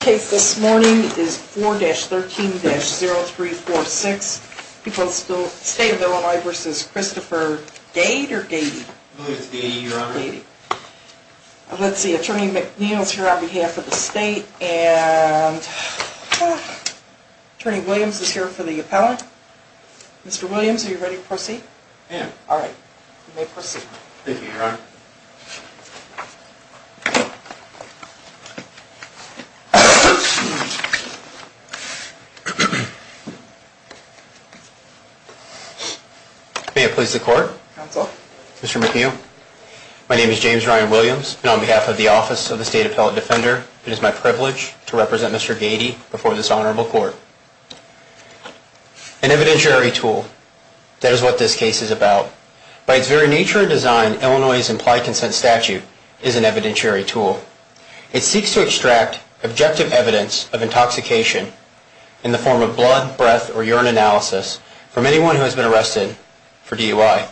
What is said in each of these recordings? The case this morning is 4-13-0346, State of Illinois v. Christopher Gaede or Gaede? I believe it's Gaede, Your Honor. Let's see, Attorney McNeil is here on behalf of the State and Attorney Williams is here for the appellant. Mr. Williams, are you ready to proceed? I am. Thank you, Your Honor. May it please the Court? Counsel? Mr. McNeil, my name is James Ryan Williams and on behalf of the Office of the State Appellant Defender, it is my privilege to represent Mr. Gaede before this Honorable Court. An evidentiary tool, that is what this case is about. By its very nature and design, Illinois' implied consent statute is an evidentiary tool. It seeks to extract objective evidence of intoxication in the form of blood, breath, or urine analysis from anyone who has been arrested for DUI.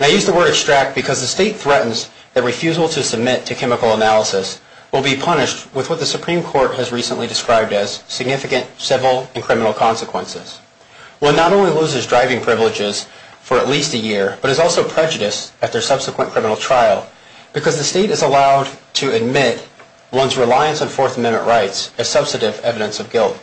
I use the word extract because the State threatens that refusal to submit to chemical analysis will be punished with what the Supreme Court has recently described as significant civil and criminal consequences. One not only loses driving privileges for at least a year, but is also prejudiced at their subsequent criminal trial because the State is allowed to admit one's reliance on Fourth Amendment rights as substantive evidence of guilt.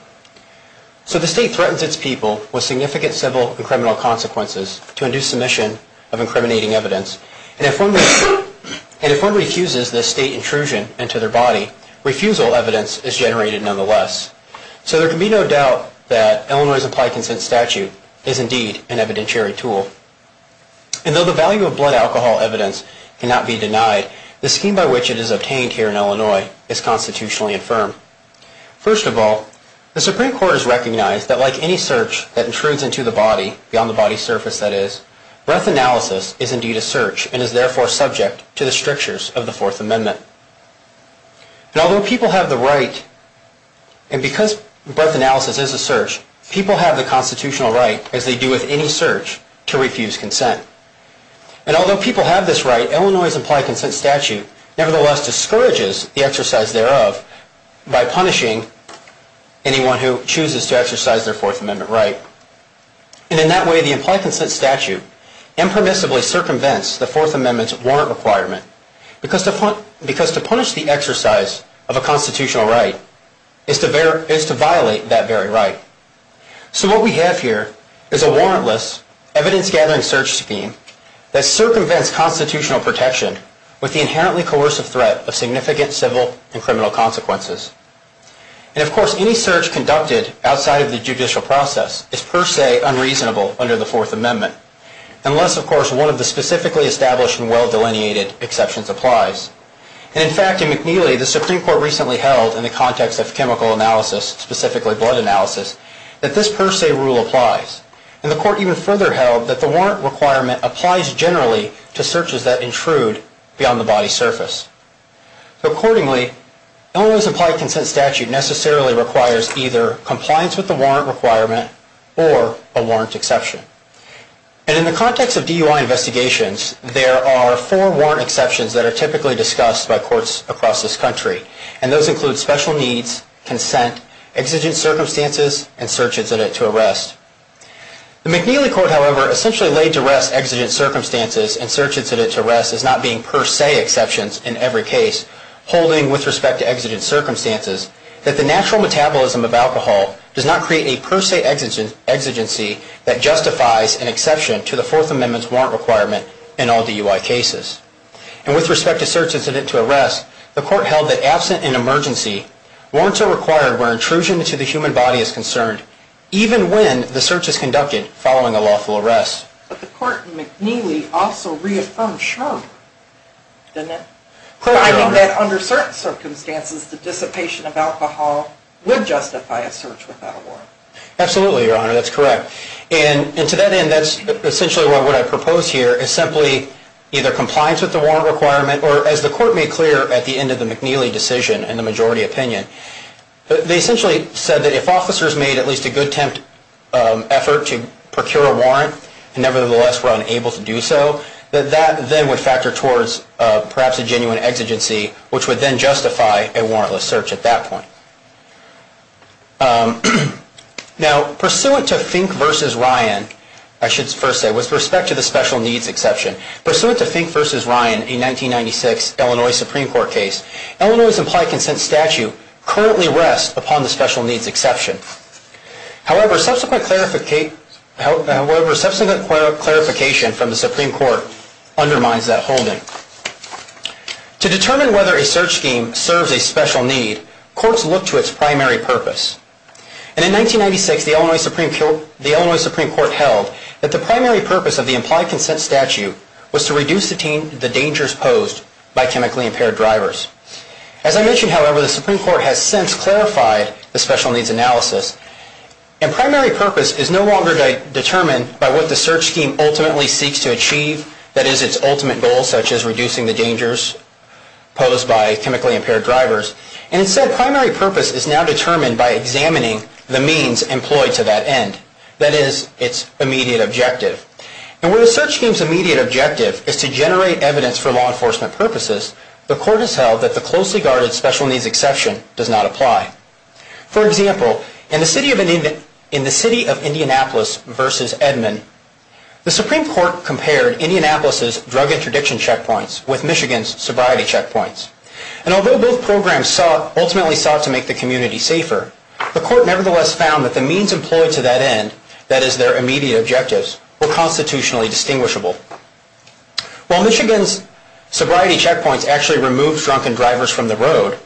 So the State threatens its people with significant civil and criminal consequences to induce submission of incriminating evidence, and if one refuses this State intrusion into their body, refusal evidence is generated nonetheless. So there can be no doubt that Illinois' implied consent statute is indeed an evidentiary tool. And though the value of blood alcohol evidence cannot be denied, the scheme by which it is obtained here in Illinois is constitutionally infirm. First of all, the Supreme Court has recognized that like any search that intrudes into the body, beyond the body's surface that is, breath analysis is indeed a search and is therefore subject to the strictures of the Fourth Amendment. And although people have the right, and because breath analysis is a search, people have the constitutional right, as they do with any search, to refuse consent. And although people have this right, Illinois' implied consent statute nevertheless discourages the exercise thereof by punishing anyone who chooses to exercise their Fourth Amendment right. And in that way, the implied consent statute impermissibly circumvents the Fourth Amendment's warrant requirement because to punish the exercise of a constitutional right is to violate that very right. So what we have here is a warrantless, evidence-gathering search scheme that circumvents constitutional protection with the inherently coercive threat of significant civil and criminal consequences. And of course, any search conducted outside of the judicial process is per se unreasonable under the Fourth Amendment, unless of course one of the specifically established and well-delineated exceptions applies. And in fact, in McNeely, the Supreme Court recently held in the context of chemical analysis, specifically blood analysis, that this per se rule applies. And the Court even further held that the warrant requirement applies generally to searches that intrude beyond the body's surface. So accordingly, Illinois' implied consent statute necessarily requires either compliance with the warrant requirement or a warrant exception. And in the context of DUI investigations, there are four warrant exceptions that are typically discussed by courts across this country. And those include special needs, consent, exigent circumstances, and search incident to arrest. The McNeely Court, however, essentially laid to rest exigent circumstances and search incident to arrest as not being per se exceptions in every case holding with respect to exigent circumstances that the natural metabolism of alcohol does not create a per se exigency that justifies an exception to the Fourth Amendment's warrant requirement in all DUI cases. And with respect to search incident to arrest, the Court held that absent an emergency, warrants are required where intrusion into the human body is concerned, even when the search is conducted following a lawful arrest. But the Court in McNeely also reaffirmed shrug, didn't it? Claiming that under certain circumstances, the dissipation of alcohol would justify a search without a warrant. Absolutely, Your Honor, that's correct. And to that end, that's essentially what I propose here is simply either compliance with the warrant requirement or, as the Court made clear at the end of the McNeely decision in the majority opinion, they essentially said that if officers made at least a good temp effort to procure a warrant and nevertheless were unable to do so, that that then would factor towards perhaps a genuine exigency which would then justify a warrantless search at that point. Now, pursuant to Fink v. Ryan, I should first say, with respect to the special needs exception, pursuant to Fink v. Ryan in 1996, Illinois Supreme Court case, Illinois' implied consent statute currently rests upon the special needs exception. However, subsequent clarification from the Supreme Court undermines that holding. To determine whether a search scheme serves a special need, courts look to its primary purpose. And in 1996, the Illinois Supreme Court held that the primary purpose of the implied consent statute was to reduce the dangers posed by chemically impaired drivers. As I mentioned, however, the Supreme Court has since clarified the special needs analysis, and primary purpose is no longer determined by what the search scheme ultimately seeks to achieve, that is, its ultimate goal such as reducing the dangers posed by chemically impaired drivers. Instead, primary purpose is now determined by examining the means employed to that end, that is, its immediate objective. And where the search scheme's immediate objective is to generate evidence for law enforcement purposes, the court has held that the closely guarded special needs exception does not apply. For example, in the city of Indianapolis versus Edmond, the Supreme Court compared Indianapolis' drug interdiction checkpoints with Michigan's sobriety checkpoints. And although both programs ultimately sought to make the community safer, the court nevertheless found that the means employed to that end, that is, their immediate objectives, were constitutionally distinguishable. While Michigan's sobriety checkpoints actually removed drunken drivers from the road,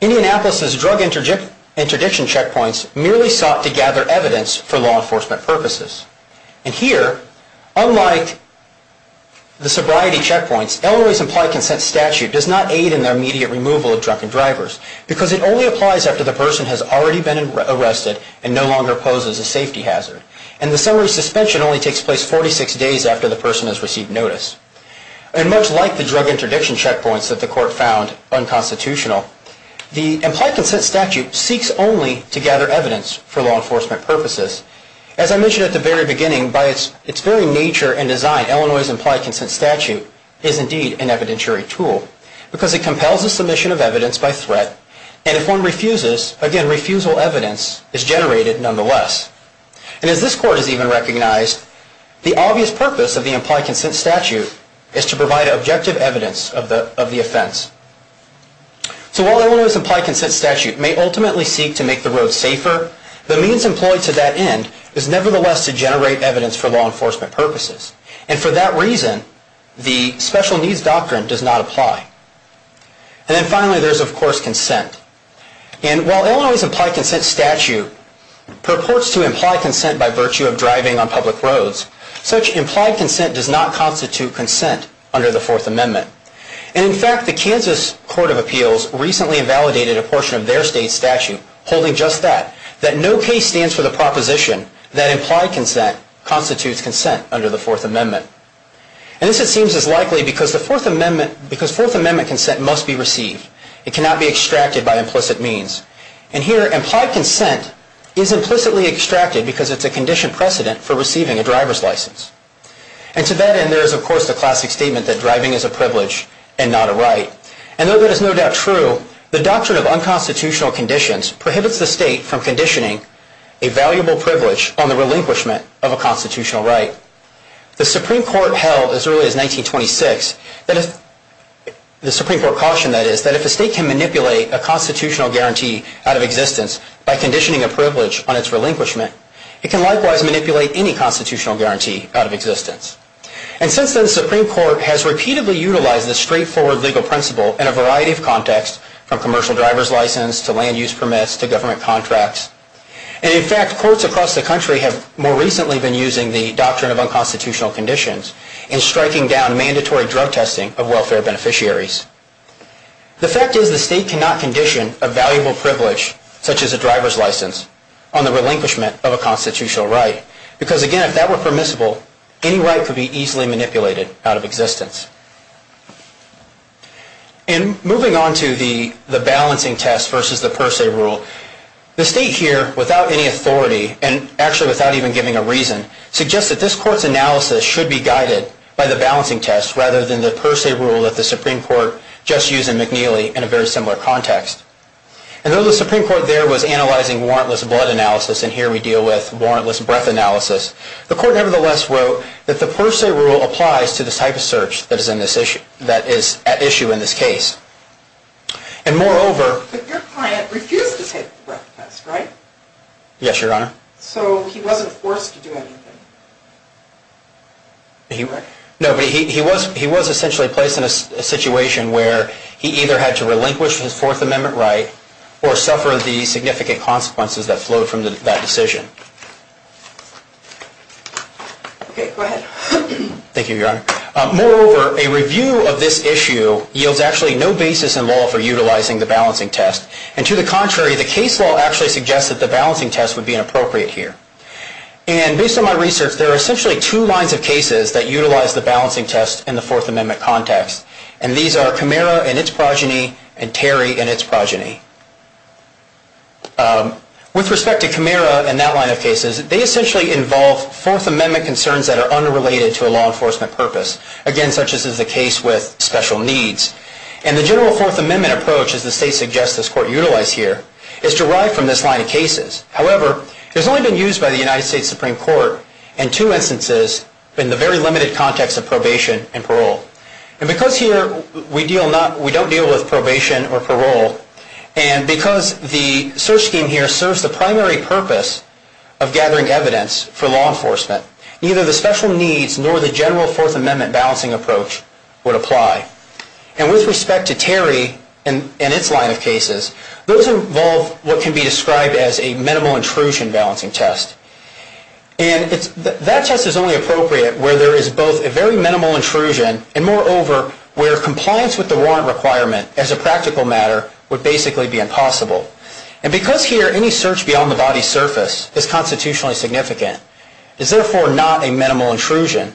Indianapolis' drug interdiction checkpoints merely sought to gather evidence for law enforcement purposes. And here, unlike the sobriety checkpoints, Elroy's implied consent statute does not aid in the immediate removal of drunken drivers, because it only applies after the person has already been arrested and no longer poses a safety hazard. And the summary suspension only takes place 46 days after the person has received notice. And much like the drug interdiction checkpoints that the court found unconstitutional, the implied consent statute seeks only to gather evidence for law enforcement purposes. As I mentioned at the very beginning, by its very nature and design, Elroy's implied consent statute is indeed an evidentiary tool, because it compels the submission of evidence by threat, and if one refuses, again, refusal evidence is generated nonetheless. And as this court has even recognized, the obvious purpose of the implied consent statute is to provide objective evidence of the offense. So while Elroy's implied consent statute may ultimately seek to make the road safer, the means employed to that end is nevertheless to generate evidence for law enforcement purposes. And for that reason, the special needs doctrine does not apply. And then finally, there's of course consent. And while Elroy's implied consent statute purports to imply consent by virtue of driving on public roads, such implied consent does not constitute consent under the Fourth Amendment. And in fact, the Kansas Court of Appeals recently invalidated a portion of their state statute holding just that, that no case stands for the proposition that implied consent constitutes consent under the Fourth Amendment. And this, it seems, is likely because Fourth Amendment consent must be received. It cannot be extracted by implicit means. And here, implied consent is implicitly extracted because it's a conditioned precedent for receiving a driver's license. And to that end, there is of course the classic statement that driving is a privilege and not a right. And though that is no doubt true, the doctrine of unconstitutional conditions prohibits the state from conditioning a valuable privilege on the relinquishment of a constitutional right. The Supreme Court held as early as 1926, the Supreme Court cautioned that is, that if a state can manipulate a constitutional guarantee out of existence by conditioning a privilege on its relinquishment, it can likewise manipulate any constitutional guarantee out of existence. And since then, the Supreme Court has repeatedly utilized this straightforward legal principle in a variety of contexts, from commercial driver's license to land use permits to government contracts. And in fact, courts across the country have more recently been using the doctrine of unconstitutional conditions in striking down mandatory drug testing of welfare beneficiaries. The fact is the state cannot condition a valuable privilege, such as a driver's license, on the relinquishment of a constitutional right. Because again, if that were permissible, any right could be easily manipulated out of existence. And moving on to the balancing test versus the per se rule, the state here, without any authority, and actually without even giving a reason, suggests that this court's analysis should be guided by the balancing test rather than the per se rule that the Supreme Court just used in McNeely in a very similar context. And though the Supreme Court there was analyzing warrantless blood analysis, and here we deal with warrantless breath analysis, the court nevertheless wrote that the per se rule applies to the type of search that is at issue in this case. And moreover... But your client refused to take the breath test, right? Yes, Your Honor. So he wasn't forced to do anything? No, but he was essentially placed in a situation where he either had to relinquish his Fourth Amendment right or suffer the significant consequences that flowed from that decision. Okay, go ahead. Thank you, Your Honor. Moreover, a review of this issue yields actually no basis in law for utilizing the balancing test. And to the contrary, the case law actually suggests that the balancing test would be inappropriate here. And based on my research, there are essentially two lines of cases that utilize the balancing test in the Fourth Amendment context. And these are Camara and its progeny, and Terry and its progeny. With respect to Camara and that line of cases, they essentially involve Fourth Amendment concerns that are unrelated to a law enforcement purpose. Again, such as is the case with special needs. And the general Fourth Amendment approach, as the state suggests this court utilize here, is derived from this line of cases. However, it has only been used by the United States Supreme Court in two instances in the very limited context of probation and parole. And because here we don't deal with probation or parole, and because the search scheme here serves the primary purpose of gathering evidence for law enforcement, neither the special needs nor the general Fourth Amendment balancing approach would apply. And with respect to Terry and its line of cases, those involve what can be described as a minimal intrusion balancing test. And that test is only appropriate where there is both a very minimal intrusion, and moreover, where compliance with the warrant requirement as a practical matter would basically be impossible. And because here any search beyond the body's surface is constitutionally significant, it's therefore not a minimal intrusion.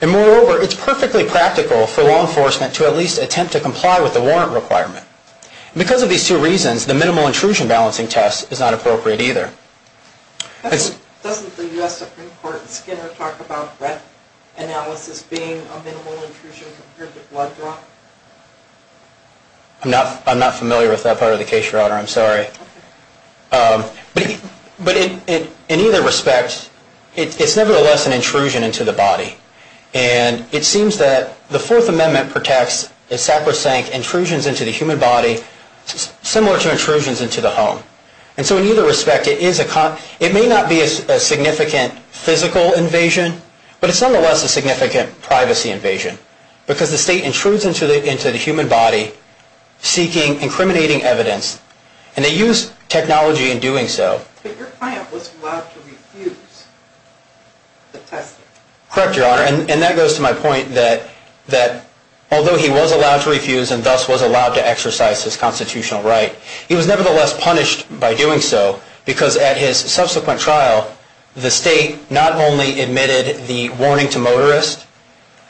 And moreover, it's perfectly practical for law enforcement to at least attempt to comply with the warrant requirement. And because of these two reasons, the minimal intrusion balancing test is not appropriate either. Doesn't the U.S. Supreme Court in Skinner talk about breath analysis being a minimal intrusion compared to blood draw? I'm not familiar with that part of the case, Your Honor. I'm sorry. But in either respect, it's nevertheless an intrusion into the body. And it seems that the Fourth Amendment protects, as Sackler's saying, intrusions into the human body similar to intrusions into the home. And so in either respect, it may not be a significant physical invasion, but it's nonetheless a significant privacy invasion. Because the state intrudes into the human body, seeking incriminating evidence, and they use technology in doing so. But your client was allowed to refuse the testing. Correct, Your Honor. And that goes to my point that although he was allowed to refuse and thus was allowed to exercise his constitutional right, he was nevertheless punished by doing so. Because at his subsequent trial, the state not only admitted the warning to motorists,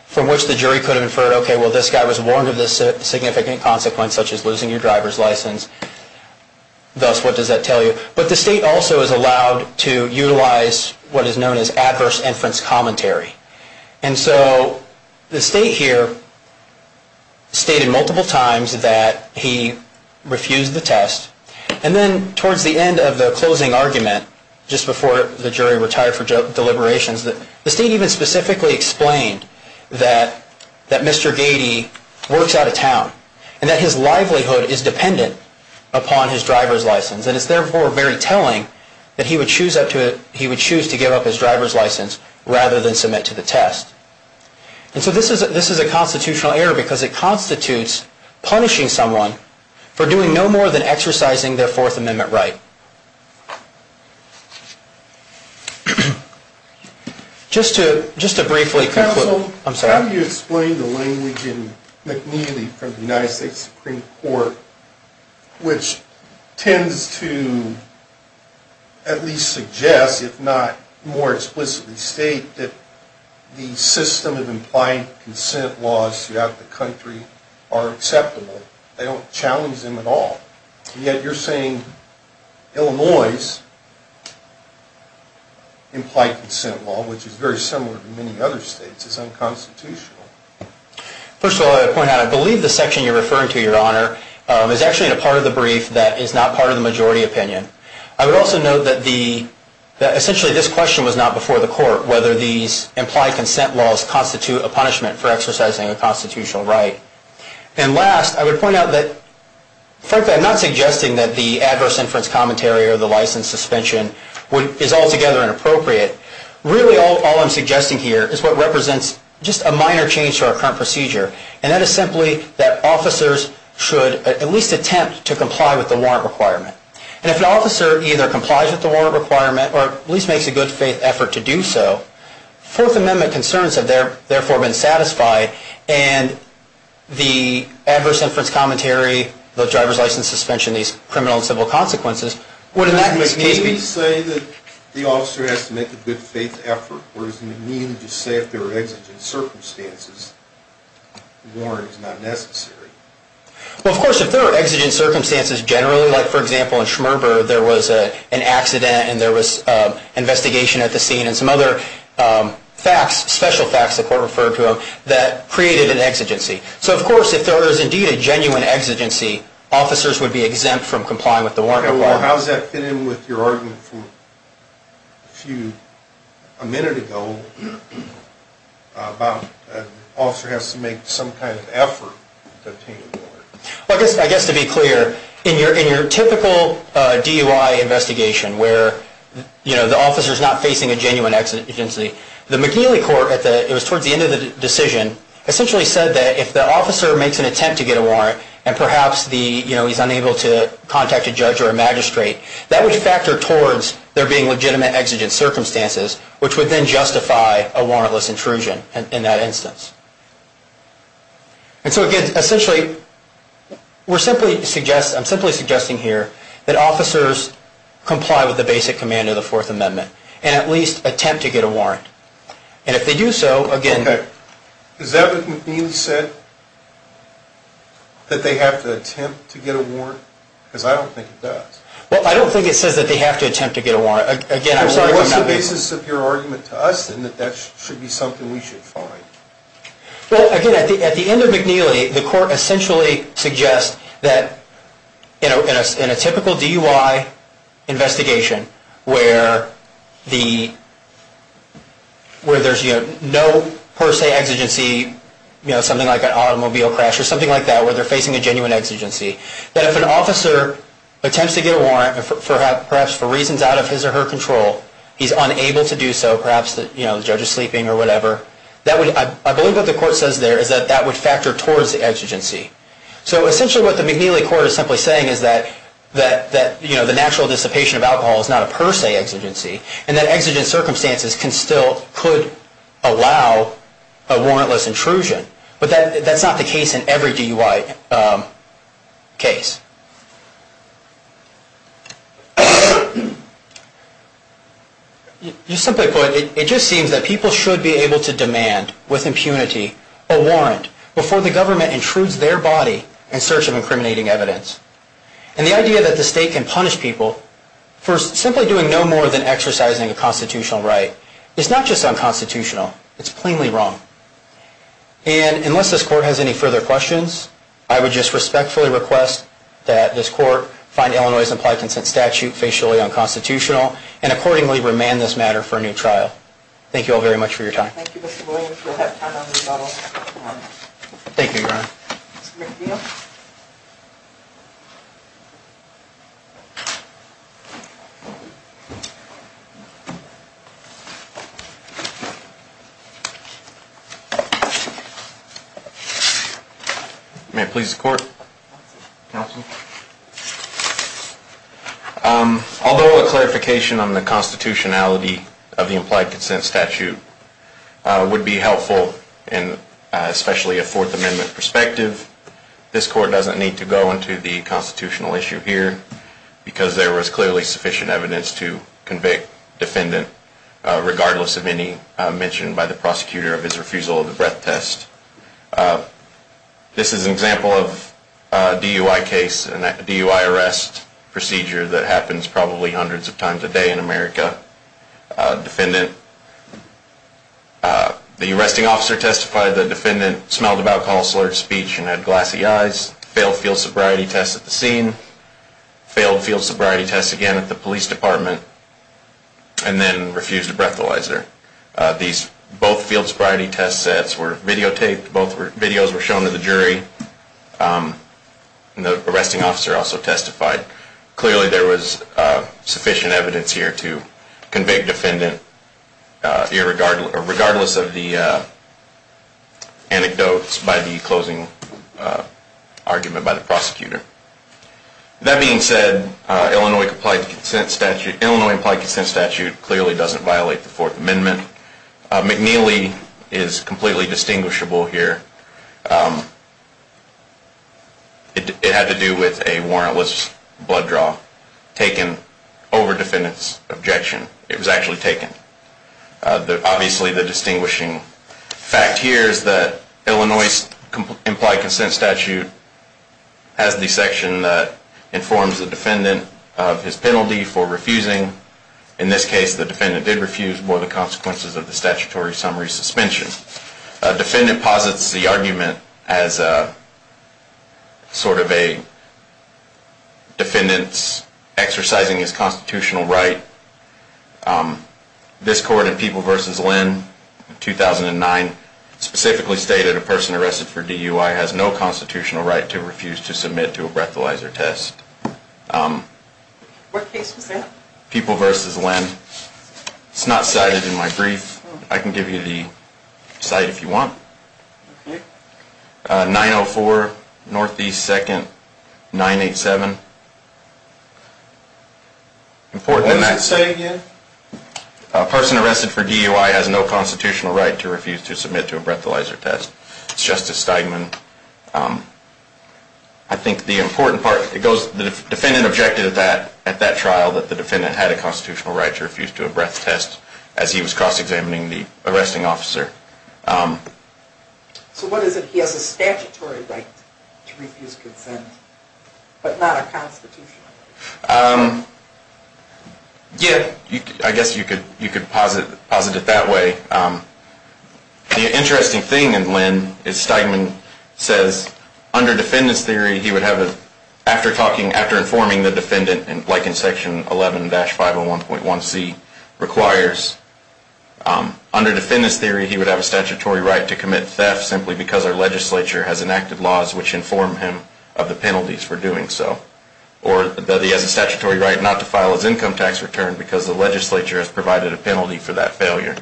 from which the jury could have inferred, okay, well, this guy was warned of this significant consequence, such as losing your driver's license, thus what does that tell you? But the state also is allowed to utilize what is known as adverse inference commentary. And so the state here stated multiple times that he refused the test. And then towards the end of the closing argument, just before the jury retired for deliberations, the state even specifically explained that Mr. Gady works out of town, and that his livelihood is dependent upon his driver's license. And it's therefore very telling that he would choose to give up his driver's license rather than submit to the test. And so this is a constitutional error because it constitutes punishing someone for doing no more than exercising their Fourth Amendment right. Just to briefly conclude. Counsel, how do you explain the language in McNeely from the United States Supreme Court, which tends to at least suggest, if not more explicitly state, that the system of implied consent laws throughout the country are acceptable? They don't challenge them at all. And yet you're saying Illinois' implied consent law, which is very similar to many other states, is unconstitutional. First of all, I'd like to point out, I believe the section you're referring to, Your Honor, is actually in a part of the brief that is not part of the majority opinion. I would also note that essentially this question was not before the court, whether these implied consent laws constitute a punishment for exercising a constitutional right. And last, I would point out that frankly I'm not suggesting that the adverse inference commentary or the license suspension is altogether inappropriate. Really all I'm suggesting here is what represents just a minor change to our current procedure. And that is simply that officers should at least attempt to comply with the warrant requirement. And if an officer either complies with the warrant requirement or at least makes a good faith effort to do so, Fourth Amendment concerns have therefore been satisfied and the adverse inference commentary, the driver's license suspension, these criminal and civil consequences would in that case be... So does it mean that the officer has to make a good faith effort? Or does it mean to say if there are exigent circumstances, the warrant is not necessary? Well, of course, if there are exigent circumstances generally, like for example in Schmerber, there was an accident and there was investigation at the scene and some other facts, special facts, the court referred to them, that created an exigency. So of course, if there is indeed a genuine exigency, officers would be exempt from complying with the warrant requirement. Well, how does that fit in with your argument from a minute ago about an officer has to make some kind of effort to obtain a warrant? Well, I guess to be clear, in your typical DUI investigation, where the officer is not facing a genuine exigency, the McNeely court, it was towards the end of the decision, essentially said that if the officer makes an attempt to get a warrant and perhaps he's unable to contact a judge or a magistrate, that would factor towards there being legitimate exigent circumstances, which would then justify a warrantless intrusion in that instance. And so again, essentially, I'm simply suggesting here that officers comply with the basic command of the Fourth Amendment and at least attempt to get a warrant. And if they do so, again... Okay. Is that what McNeely said? That they have to attempt to get a warrant? Because I don't think it does. Well, I don't think it says that they have to attempt to get a warrant. Again, I'm sorry if I'm not making... Well, what's the basis of your argument to us in that that should be something we should find? Well, again, at the end of McNeely, the court essentially suggests that, in a typical DUI investigation where there's no per se exigency, something like an automobile crash or something like that, where they're facing a genuine exigency, that if an officer attempts to get a warrant and perhaps for reasons out of his or her control, he's unable to do so, perhaps the judge is sleeping or whatever, I believe what the court says there is that that would factor towards the exigency. So essentially what the McNeely court is simply saying is that the natural dissipation of alcohol is not a per se exigency and that exigent circumstances still could allow a warrantless intrusion. But that's not the case in every DUI case. Just simply put, it just seems that people should be able to demand, with impunity, a warrant before the government intrudes their body in search of incriminating evidence. And the idea that the state can punish people for simply doing no more than exercising a constitutional right is not just unconstitutional, it's plainly wrong. And unless this court has any further questions, I would just respectfully request that this court find Illinois' implied consent statute facially unconstitutional and accordingly remand this matter for a new trial. Thank you all very much for your time. Thank you, Garth. May it please the court? Although a clarification on the constitutionality of the implied consent statute would be helpful in especially a Fourth Amendment perspective, this court doesn't need to go into the constitutional issue here because there was clearly sufficient evidence to convict defendant regardless of any mentioned by the prosecutor of his refusal of the breath test. This is an example of a DUI arrest procedure that happens probably hundreds of times a day in America. The arresting officer testified the defendant smelled of alcohol, slurred speech, and had glassy eyes, failed field sobriety tests at the scene, failed field sobriety tests again at the police department, and then refused a breathalyzer. Both field sobriety test sets were videotaped, both videos were shown to the jury, and the arresting officer also testified. Clearly there was sufficient evidence here to convict defendant regardless of the anecdotes by the closing argument by the prosecutor. That being said, Illinois implied consent statute clearly doesn't violate the Fourth Amendment. McNeely is completely distinguishable here. It had to do with a warrantless blood draw that was taken over defendant's objection. It was actually taken. Obviously the distinguishing fact here is that Illinois implied consent statute has the section that informs the defendant of his penalty for refusing. In this case, the defendant did refuse for the consequences of the statutory summary suspension. A defendant posits the argument as sort of a defendant's exercising his constitutional right. This court in People v. Lynn, 2009, specifically stated a person arrested for DUI has no constitutional right to refuse to submit to a breathalyzer test. What case was that? People v. Lynn. It's not cited in my brief. I can give you the cite if you want. 904 Northeast 2nd 987. What does it say again? A person arrested for DUI has no constitutional right to refuse to submit to a breathalyzer test. It's Justice Steigman. I think the important part, the defendant objected at that trial that the defendant had a constitutional right to refuse to a breath test as he was cross-examining the arresting officer. So what is it? He has a statutory right to refuse consent, but not a constitutional right? Yeah, I guess you could posit it that way. The interesting thing in Lynn is Steigman says, under defendant's theory, he would have, after informing the defendant, like in Section 11-501.1c requires, under defendant's theory, he would have a statutory right to commit theft simply because our legislature has enacted laws which inform him of the penalties for doing so. Or that he has a statutory right not to file his income tax return because the legislature has provided a penalty for that failure.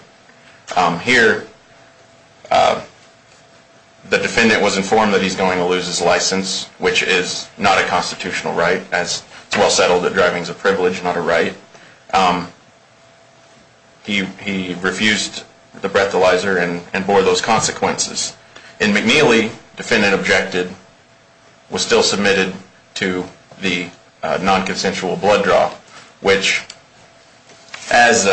Here, the defendant was informed that he's going to lose his license, which is not a constitutional right as it's well settled that driving is a privilege, not a right. He refused the breathalyzer and bore those consequences. In McNeely, defendant objected, was still submitted to the non-consensual blood draw, which, as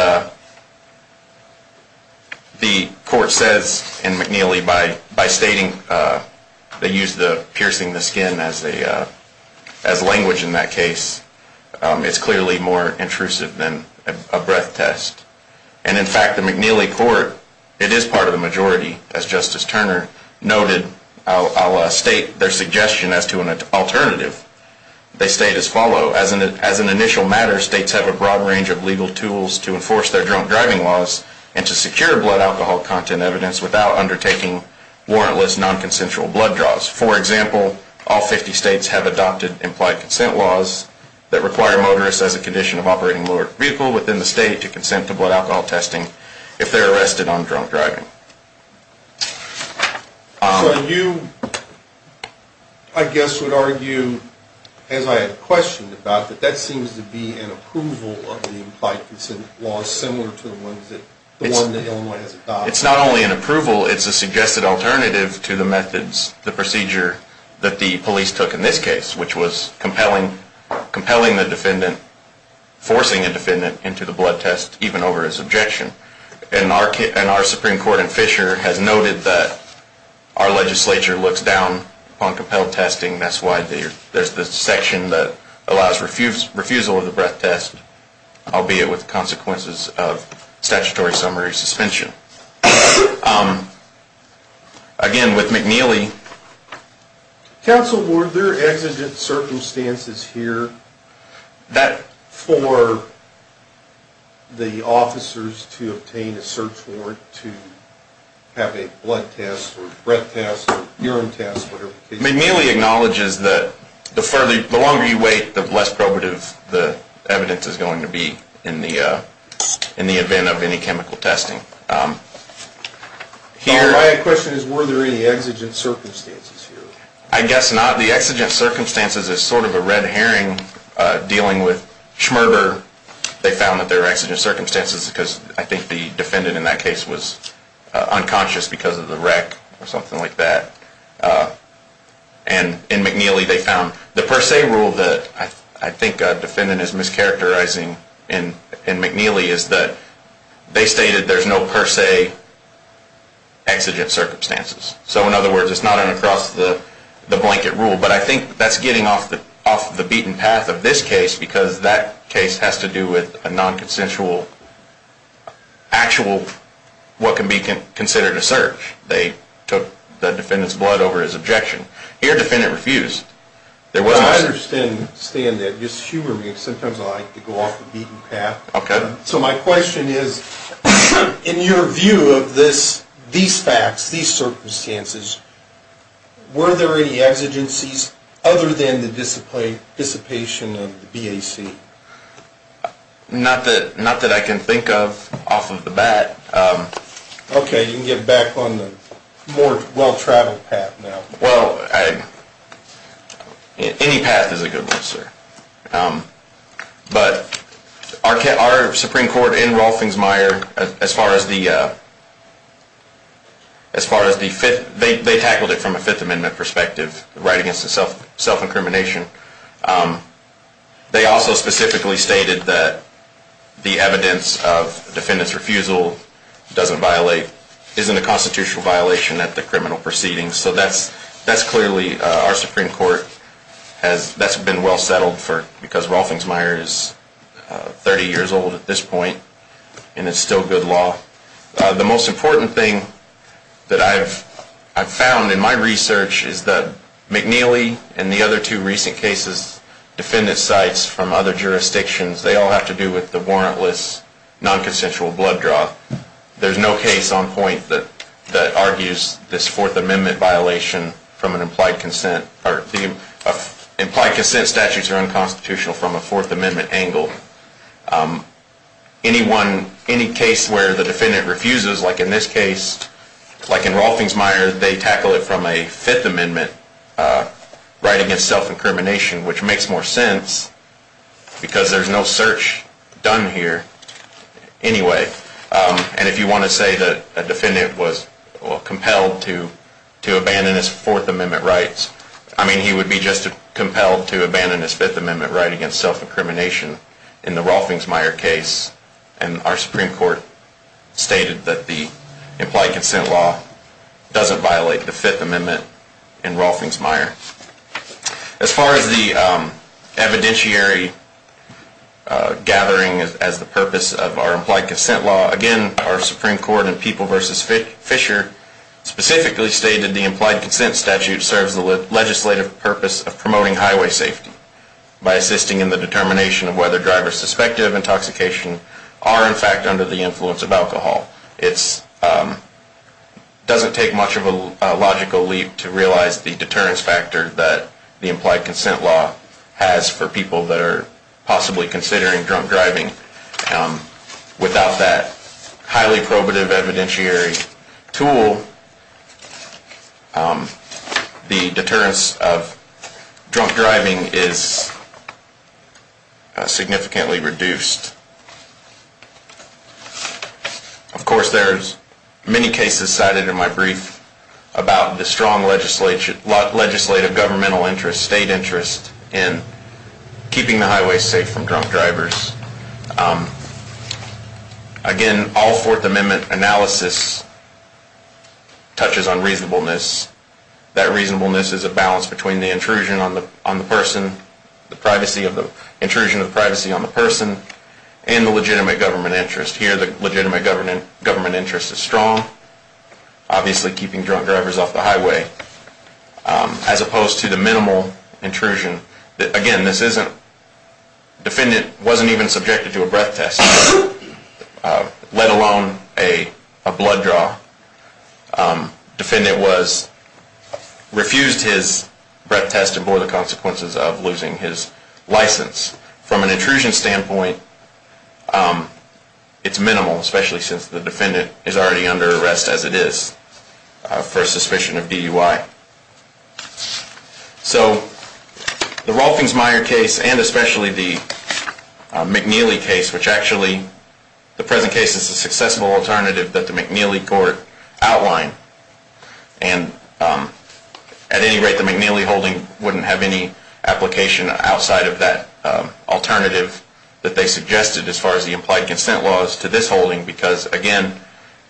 the court says in McNeely, by stating they use the piercing the skin as language in that case, it's clearly more intrusive than a breath test. And in fact, the McNeely court, it is part of the majority, as Justice Turner noted, I'll state their suggestion as to an alternative. They state as follows, as an initial matter, states have a broad range of legal tools to enforce their drunk driving laws and to secure blood alcohol content evidence without undertaking warrantless non-consensual blood draws. For example, all 50 states have adopted implied consent laws that require motorists as a condition of operating motor vehicle within the state to consent to blood alcohol testing if they're arrested on drunk driving. So you, I guess, would argue, as I had questioned about, that that seems to be an approval of the implied consent laws similar to the ones that Illinois has adopted. It's not only an approval, it's a suggested alternative to the methods, the procedure that the police took in this case, which was compelling the defendant, forcing a defendant into the blood test even over his objection. And our Supreme Court in Fisher has noted that our legislature looks down on compelled testing. That's why there's this section that allows refusal of the breath test, albeit with consequences of statutory summary suspension. Again, with McNeely... Counsel, were there exigent circumstances here for the officers to obtain a search warrant to have a blood test or breath test or urine test, whatever the case may be? McNeely acknowledges that the further, the longer you wait, the less probative the evidence is going to be in the event of any chemical testing. My question is, were there any exigent circumstances here? I guess not. The exigent circumstances is sort of a red herring dealing with Schmerber. They found that there were exigent circumstances because I think the defendant in that case was unconscious because of the wreck or something like that. And in McNeely they found... The per se rule that I think a defendant is mischaracterizing in McNeely is that they stated there's no per se exigent circumstances. So in other words, it's not an across-the-blanket rule. But I think that's getting off the beaten path of this case because that case has to do with a non-consensual, actual what can be considered a search. They took the defendant's blood over his objection. Here, the defendant refused. I understand that. Just humor me because sometimes I like to go off the beaten path. So my question is, in your view of these facts, these circumstances, were there any exigencies other than the dissipation of the BAC? Not that I can think of off of the bat. Okay, you can get back on the more well-traveled path now. Well, any path is a good one, sir. But our Supreme Court in Rolfings-Meyer, as far as the... They tackled it from a Fifth Amendment perspective, right against the self-incrimination. They also specifically stated that the evidence of defendant's refusal doesn't violate, isn't a constitutional violation at the criminal proceedings. So that's clearly our Supreme Court. That's been well settled because Rolfings-Meyer is 30 years old at this point and it's still good law. The most important thing that I've found in my research is that McNeely and the other two recent cases, defendant's sites from other jurisdictions, they all have to do with the warrantless non-consensual blood draw. There's no case on point that argues this Fourth Amendment violation from an implied consent. Implied consent statutes are unconstitutional from a Fourth Amendment angle. Any case where the defendant refuses, like in this case, like in Rolfings-Meyer, they tackle it from a Fifth Amendment right against self-incrimination, which makes more sense because there's no search done here anyway. And if you want to say that a defendant was compelled to abandon his Fourth Amendment rights, I mean he would be just as compelled to abandon his Fifth Amendment right against self-incrimination in the Rolfings-Meyer case. And our Supreme Court stated that the implied consent law doesn't violate the Fifth Amendment in Rolfings-Meyer. As far as the evidentiary gathering as the purpose of our implied consent law, again, our Supreme Court in People v. Fisher specifically stated the implied consent statute serves the legislative purpose of promoting highway safety by assisting in the determination of whether drivers suspected of intoxication are, in fact, under the influence of alcohol. It doesn't take much of a logical leap to realize the deterrence factor that the implied consent law has for people that are possibly considering drunk driving. Without that highly probative evidentiary tool, the deterrence of drunk driving is significantly reduced. Of course, there's many cases cited in my brief about the strong legislative governmental interest, state interest, in keeping the highways safe from drunk drivers. Again, all Fourth Amendment analysis touches on reasonableness. That reasonableness is a balance between the intrusion on the person, the intrusion of privacy on the person, and the legitimate government interest. Here, the legitimate government interest is strong, obviously keeping drunk drivers off the highway, as opposed to the minimal intrusion. Again, the defendant wasn't even subjected to a breath test, let alone a blood draw. The defendant refused his breath test and bore the consequences of losing his license. From an intrusion standpoint, it's minimal, especially since the defendant is already under arrest as it is for suspicion of DUI. The Rolfings-Meyer case, and especially the McNeely case, which actually, in the present case, is a successful alternative that the McNeely court outlined. At any rate, the McNeely holding wouldn't have any application outside of that alternative that they suggested as far as the implied consent laws to this holding, because, again,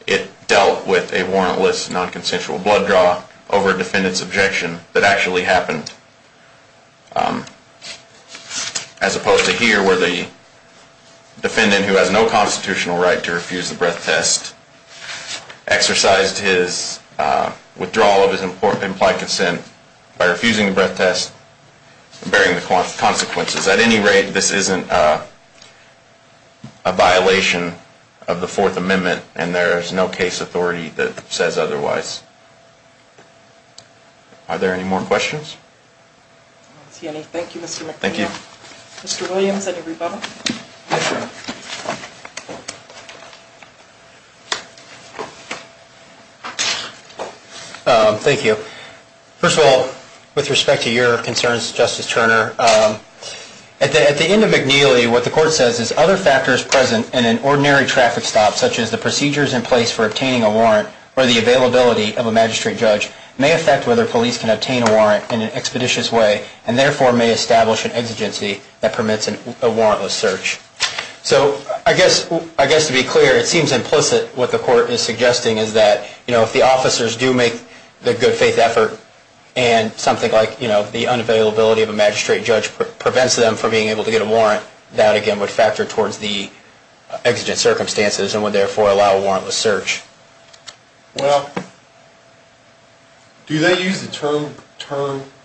it dealt with a warrantless non-consensual blood draw over a defendant's objection that actually happened, as opposed to here, where the defendant, who has no constitutional right to refuse the breath test, exercised his withdrawal of his implied consent by refusing the breath test and bearing the consequences. At any rate, this isn't a violation of the Fourth Amendment, and there is no case authority that says otherwise. Are there any more questions? I don't see any. Thank you, Mr. McNeely. Mr. Williams, any rebuttal? Thank you. First of all, with respect to your concerns, Justice Turner, at the end of McNeely, what the court says is, other factors present in an ordinary traffic stop, such as the procedures in place for obtaining a warrant or the availability of a magistrate judge, may affect whether police can obtain a warrant in an expeditious way and therefore may establish an exigency that permits a warrantless search. So I guess to be clear, it seems implicit what the court is suggesting is that if the officers do make the good faith effort and something like the unavailability of a magistrate judge prevents them from being able to get a warrant, that again would factor towards the exigent circumstances and would therefore allow a warrantless search. Well, do they use the term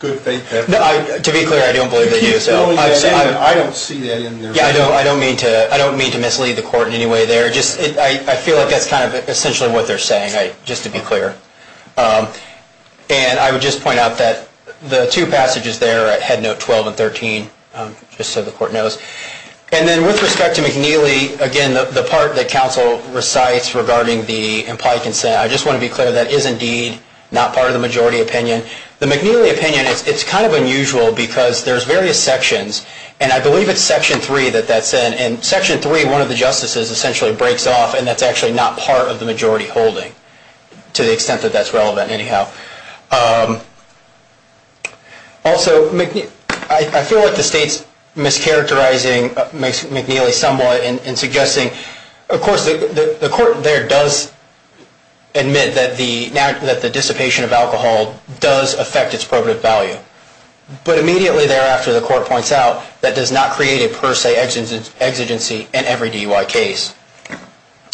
good faith effort? To be clear, I don't believe they do. I don't see that in their ruling. Yeah, I don't mean to mislead the court in any way there. I feel like that's kind of essentially what they're saying, just to be clear. And I would just point out that the two passages there at Headnote 12 and 13, just so the court knows, and then with respect to McNeely, again, the part that counsel recites regarding the implied consent, I just want to be clear, that is indeed not part of the majority opinion. The McNeely opinion, it's kind of unusual because there's various sections, and I believe it's Section 3 that that's in, and Section 3, one of the justices essentially breaks off, and that's actually not part of the majority holding, to the extent that that's relevant anyhow. Also, I feel like the state's mischaracterizing McNeely somewhat in suggesting of course the court there does admit that the dissipation of alcohol does affect its probative value, but immediately thereafter the court points out that does not create a per se exigency in every DUI case.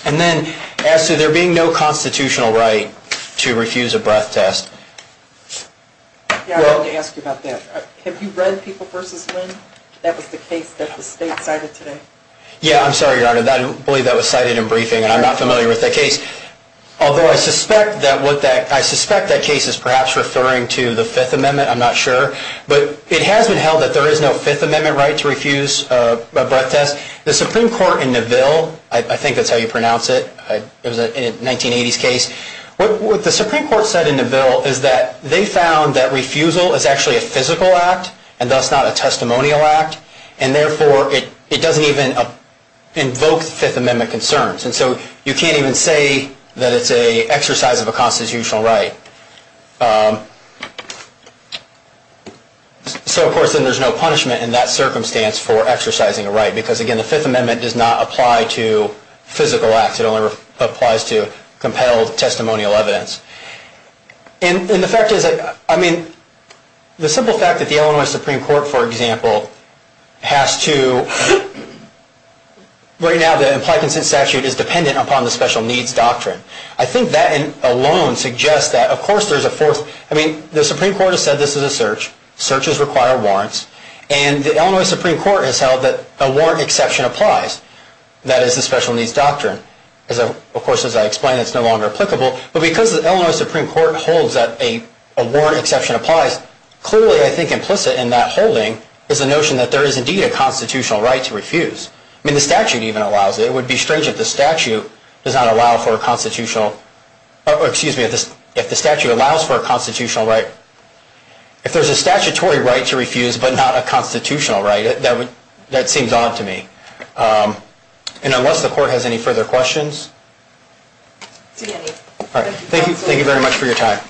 And then, as to there being no constitutional right to refuse a breath test. Yeah, I wanted to ask you about that. Have you read People vs. Wind? That was the case that the state cited today. Yeah, I'm sorry, Your Honor, I don't believe that was cited in briefing, and I'm not familiar with that case. Although I suspect that case is perhaps referring to the Fifth Amendment, I'm not sure, but it has been held that there is no Fifth Amendment right to refuse a breath test. The Supreme Court in Neville, I think that's how you pronounce it, it was a 1980s case, what the Supreme Court said in Neville is that they found that refusal is actually a physical act, and thus not a testimonial act, and therefore it doesn't even invoke the Fifth Amendment concerns. And so you can't even say that it's an exercise of a constitutional right. So, of course, then there's no punishment in that circumstance for exercising a right, because, again, the Fifth Amendment does not apply to physical acts, it only applies to compelled testimonial evidence. And the fact is, I mean, the simple fact that the Illinois Supreme Court, for example, has to right now, the implied consent statute is dependent upon the special needs doctrine. I think that alone suggests that, of course, there's a fourth, I mean, the Supreme Court has said this is a search, searches require warrants, and the Illinois Supreme Court has held that a warrant exception applies. That is the special needs doctrine. Of course, as I explained, it's no longer applicable, but because the Illinois Supreme Court holds that a warrant exception applies, clearly, I think, implicit in that holding is the notion that there is indeed a constitutional right to refuse. I mean, the statute even allows it. It would be strange if the statute does not allow for a constitutional excuse me, if the statute allows for a constitutional right if there's a statutory right to refuse, but not a constitutional right, that seems odd to me. And unless the court has any further questions. Thank you very much for your time.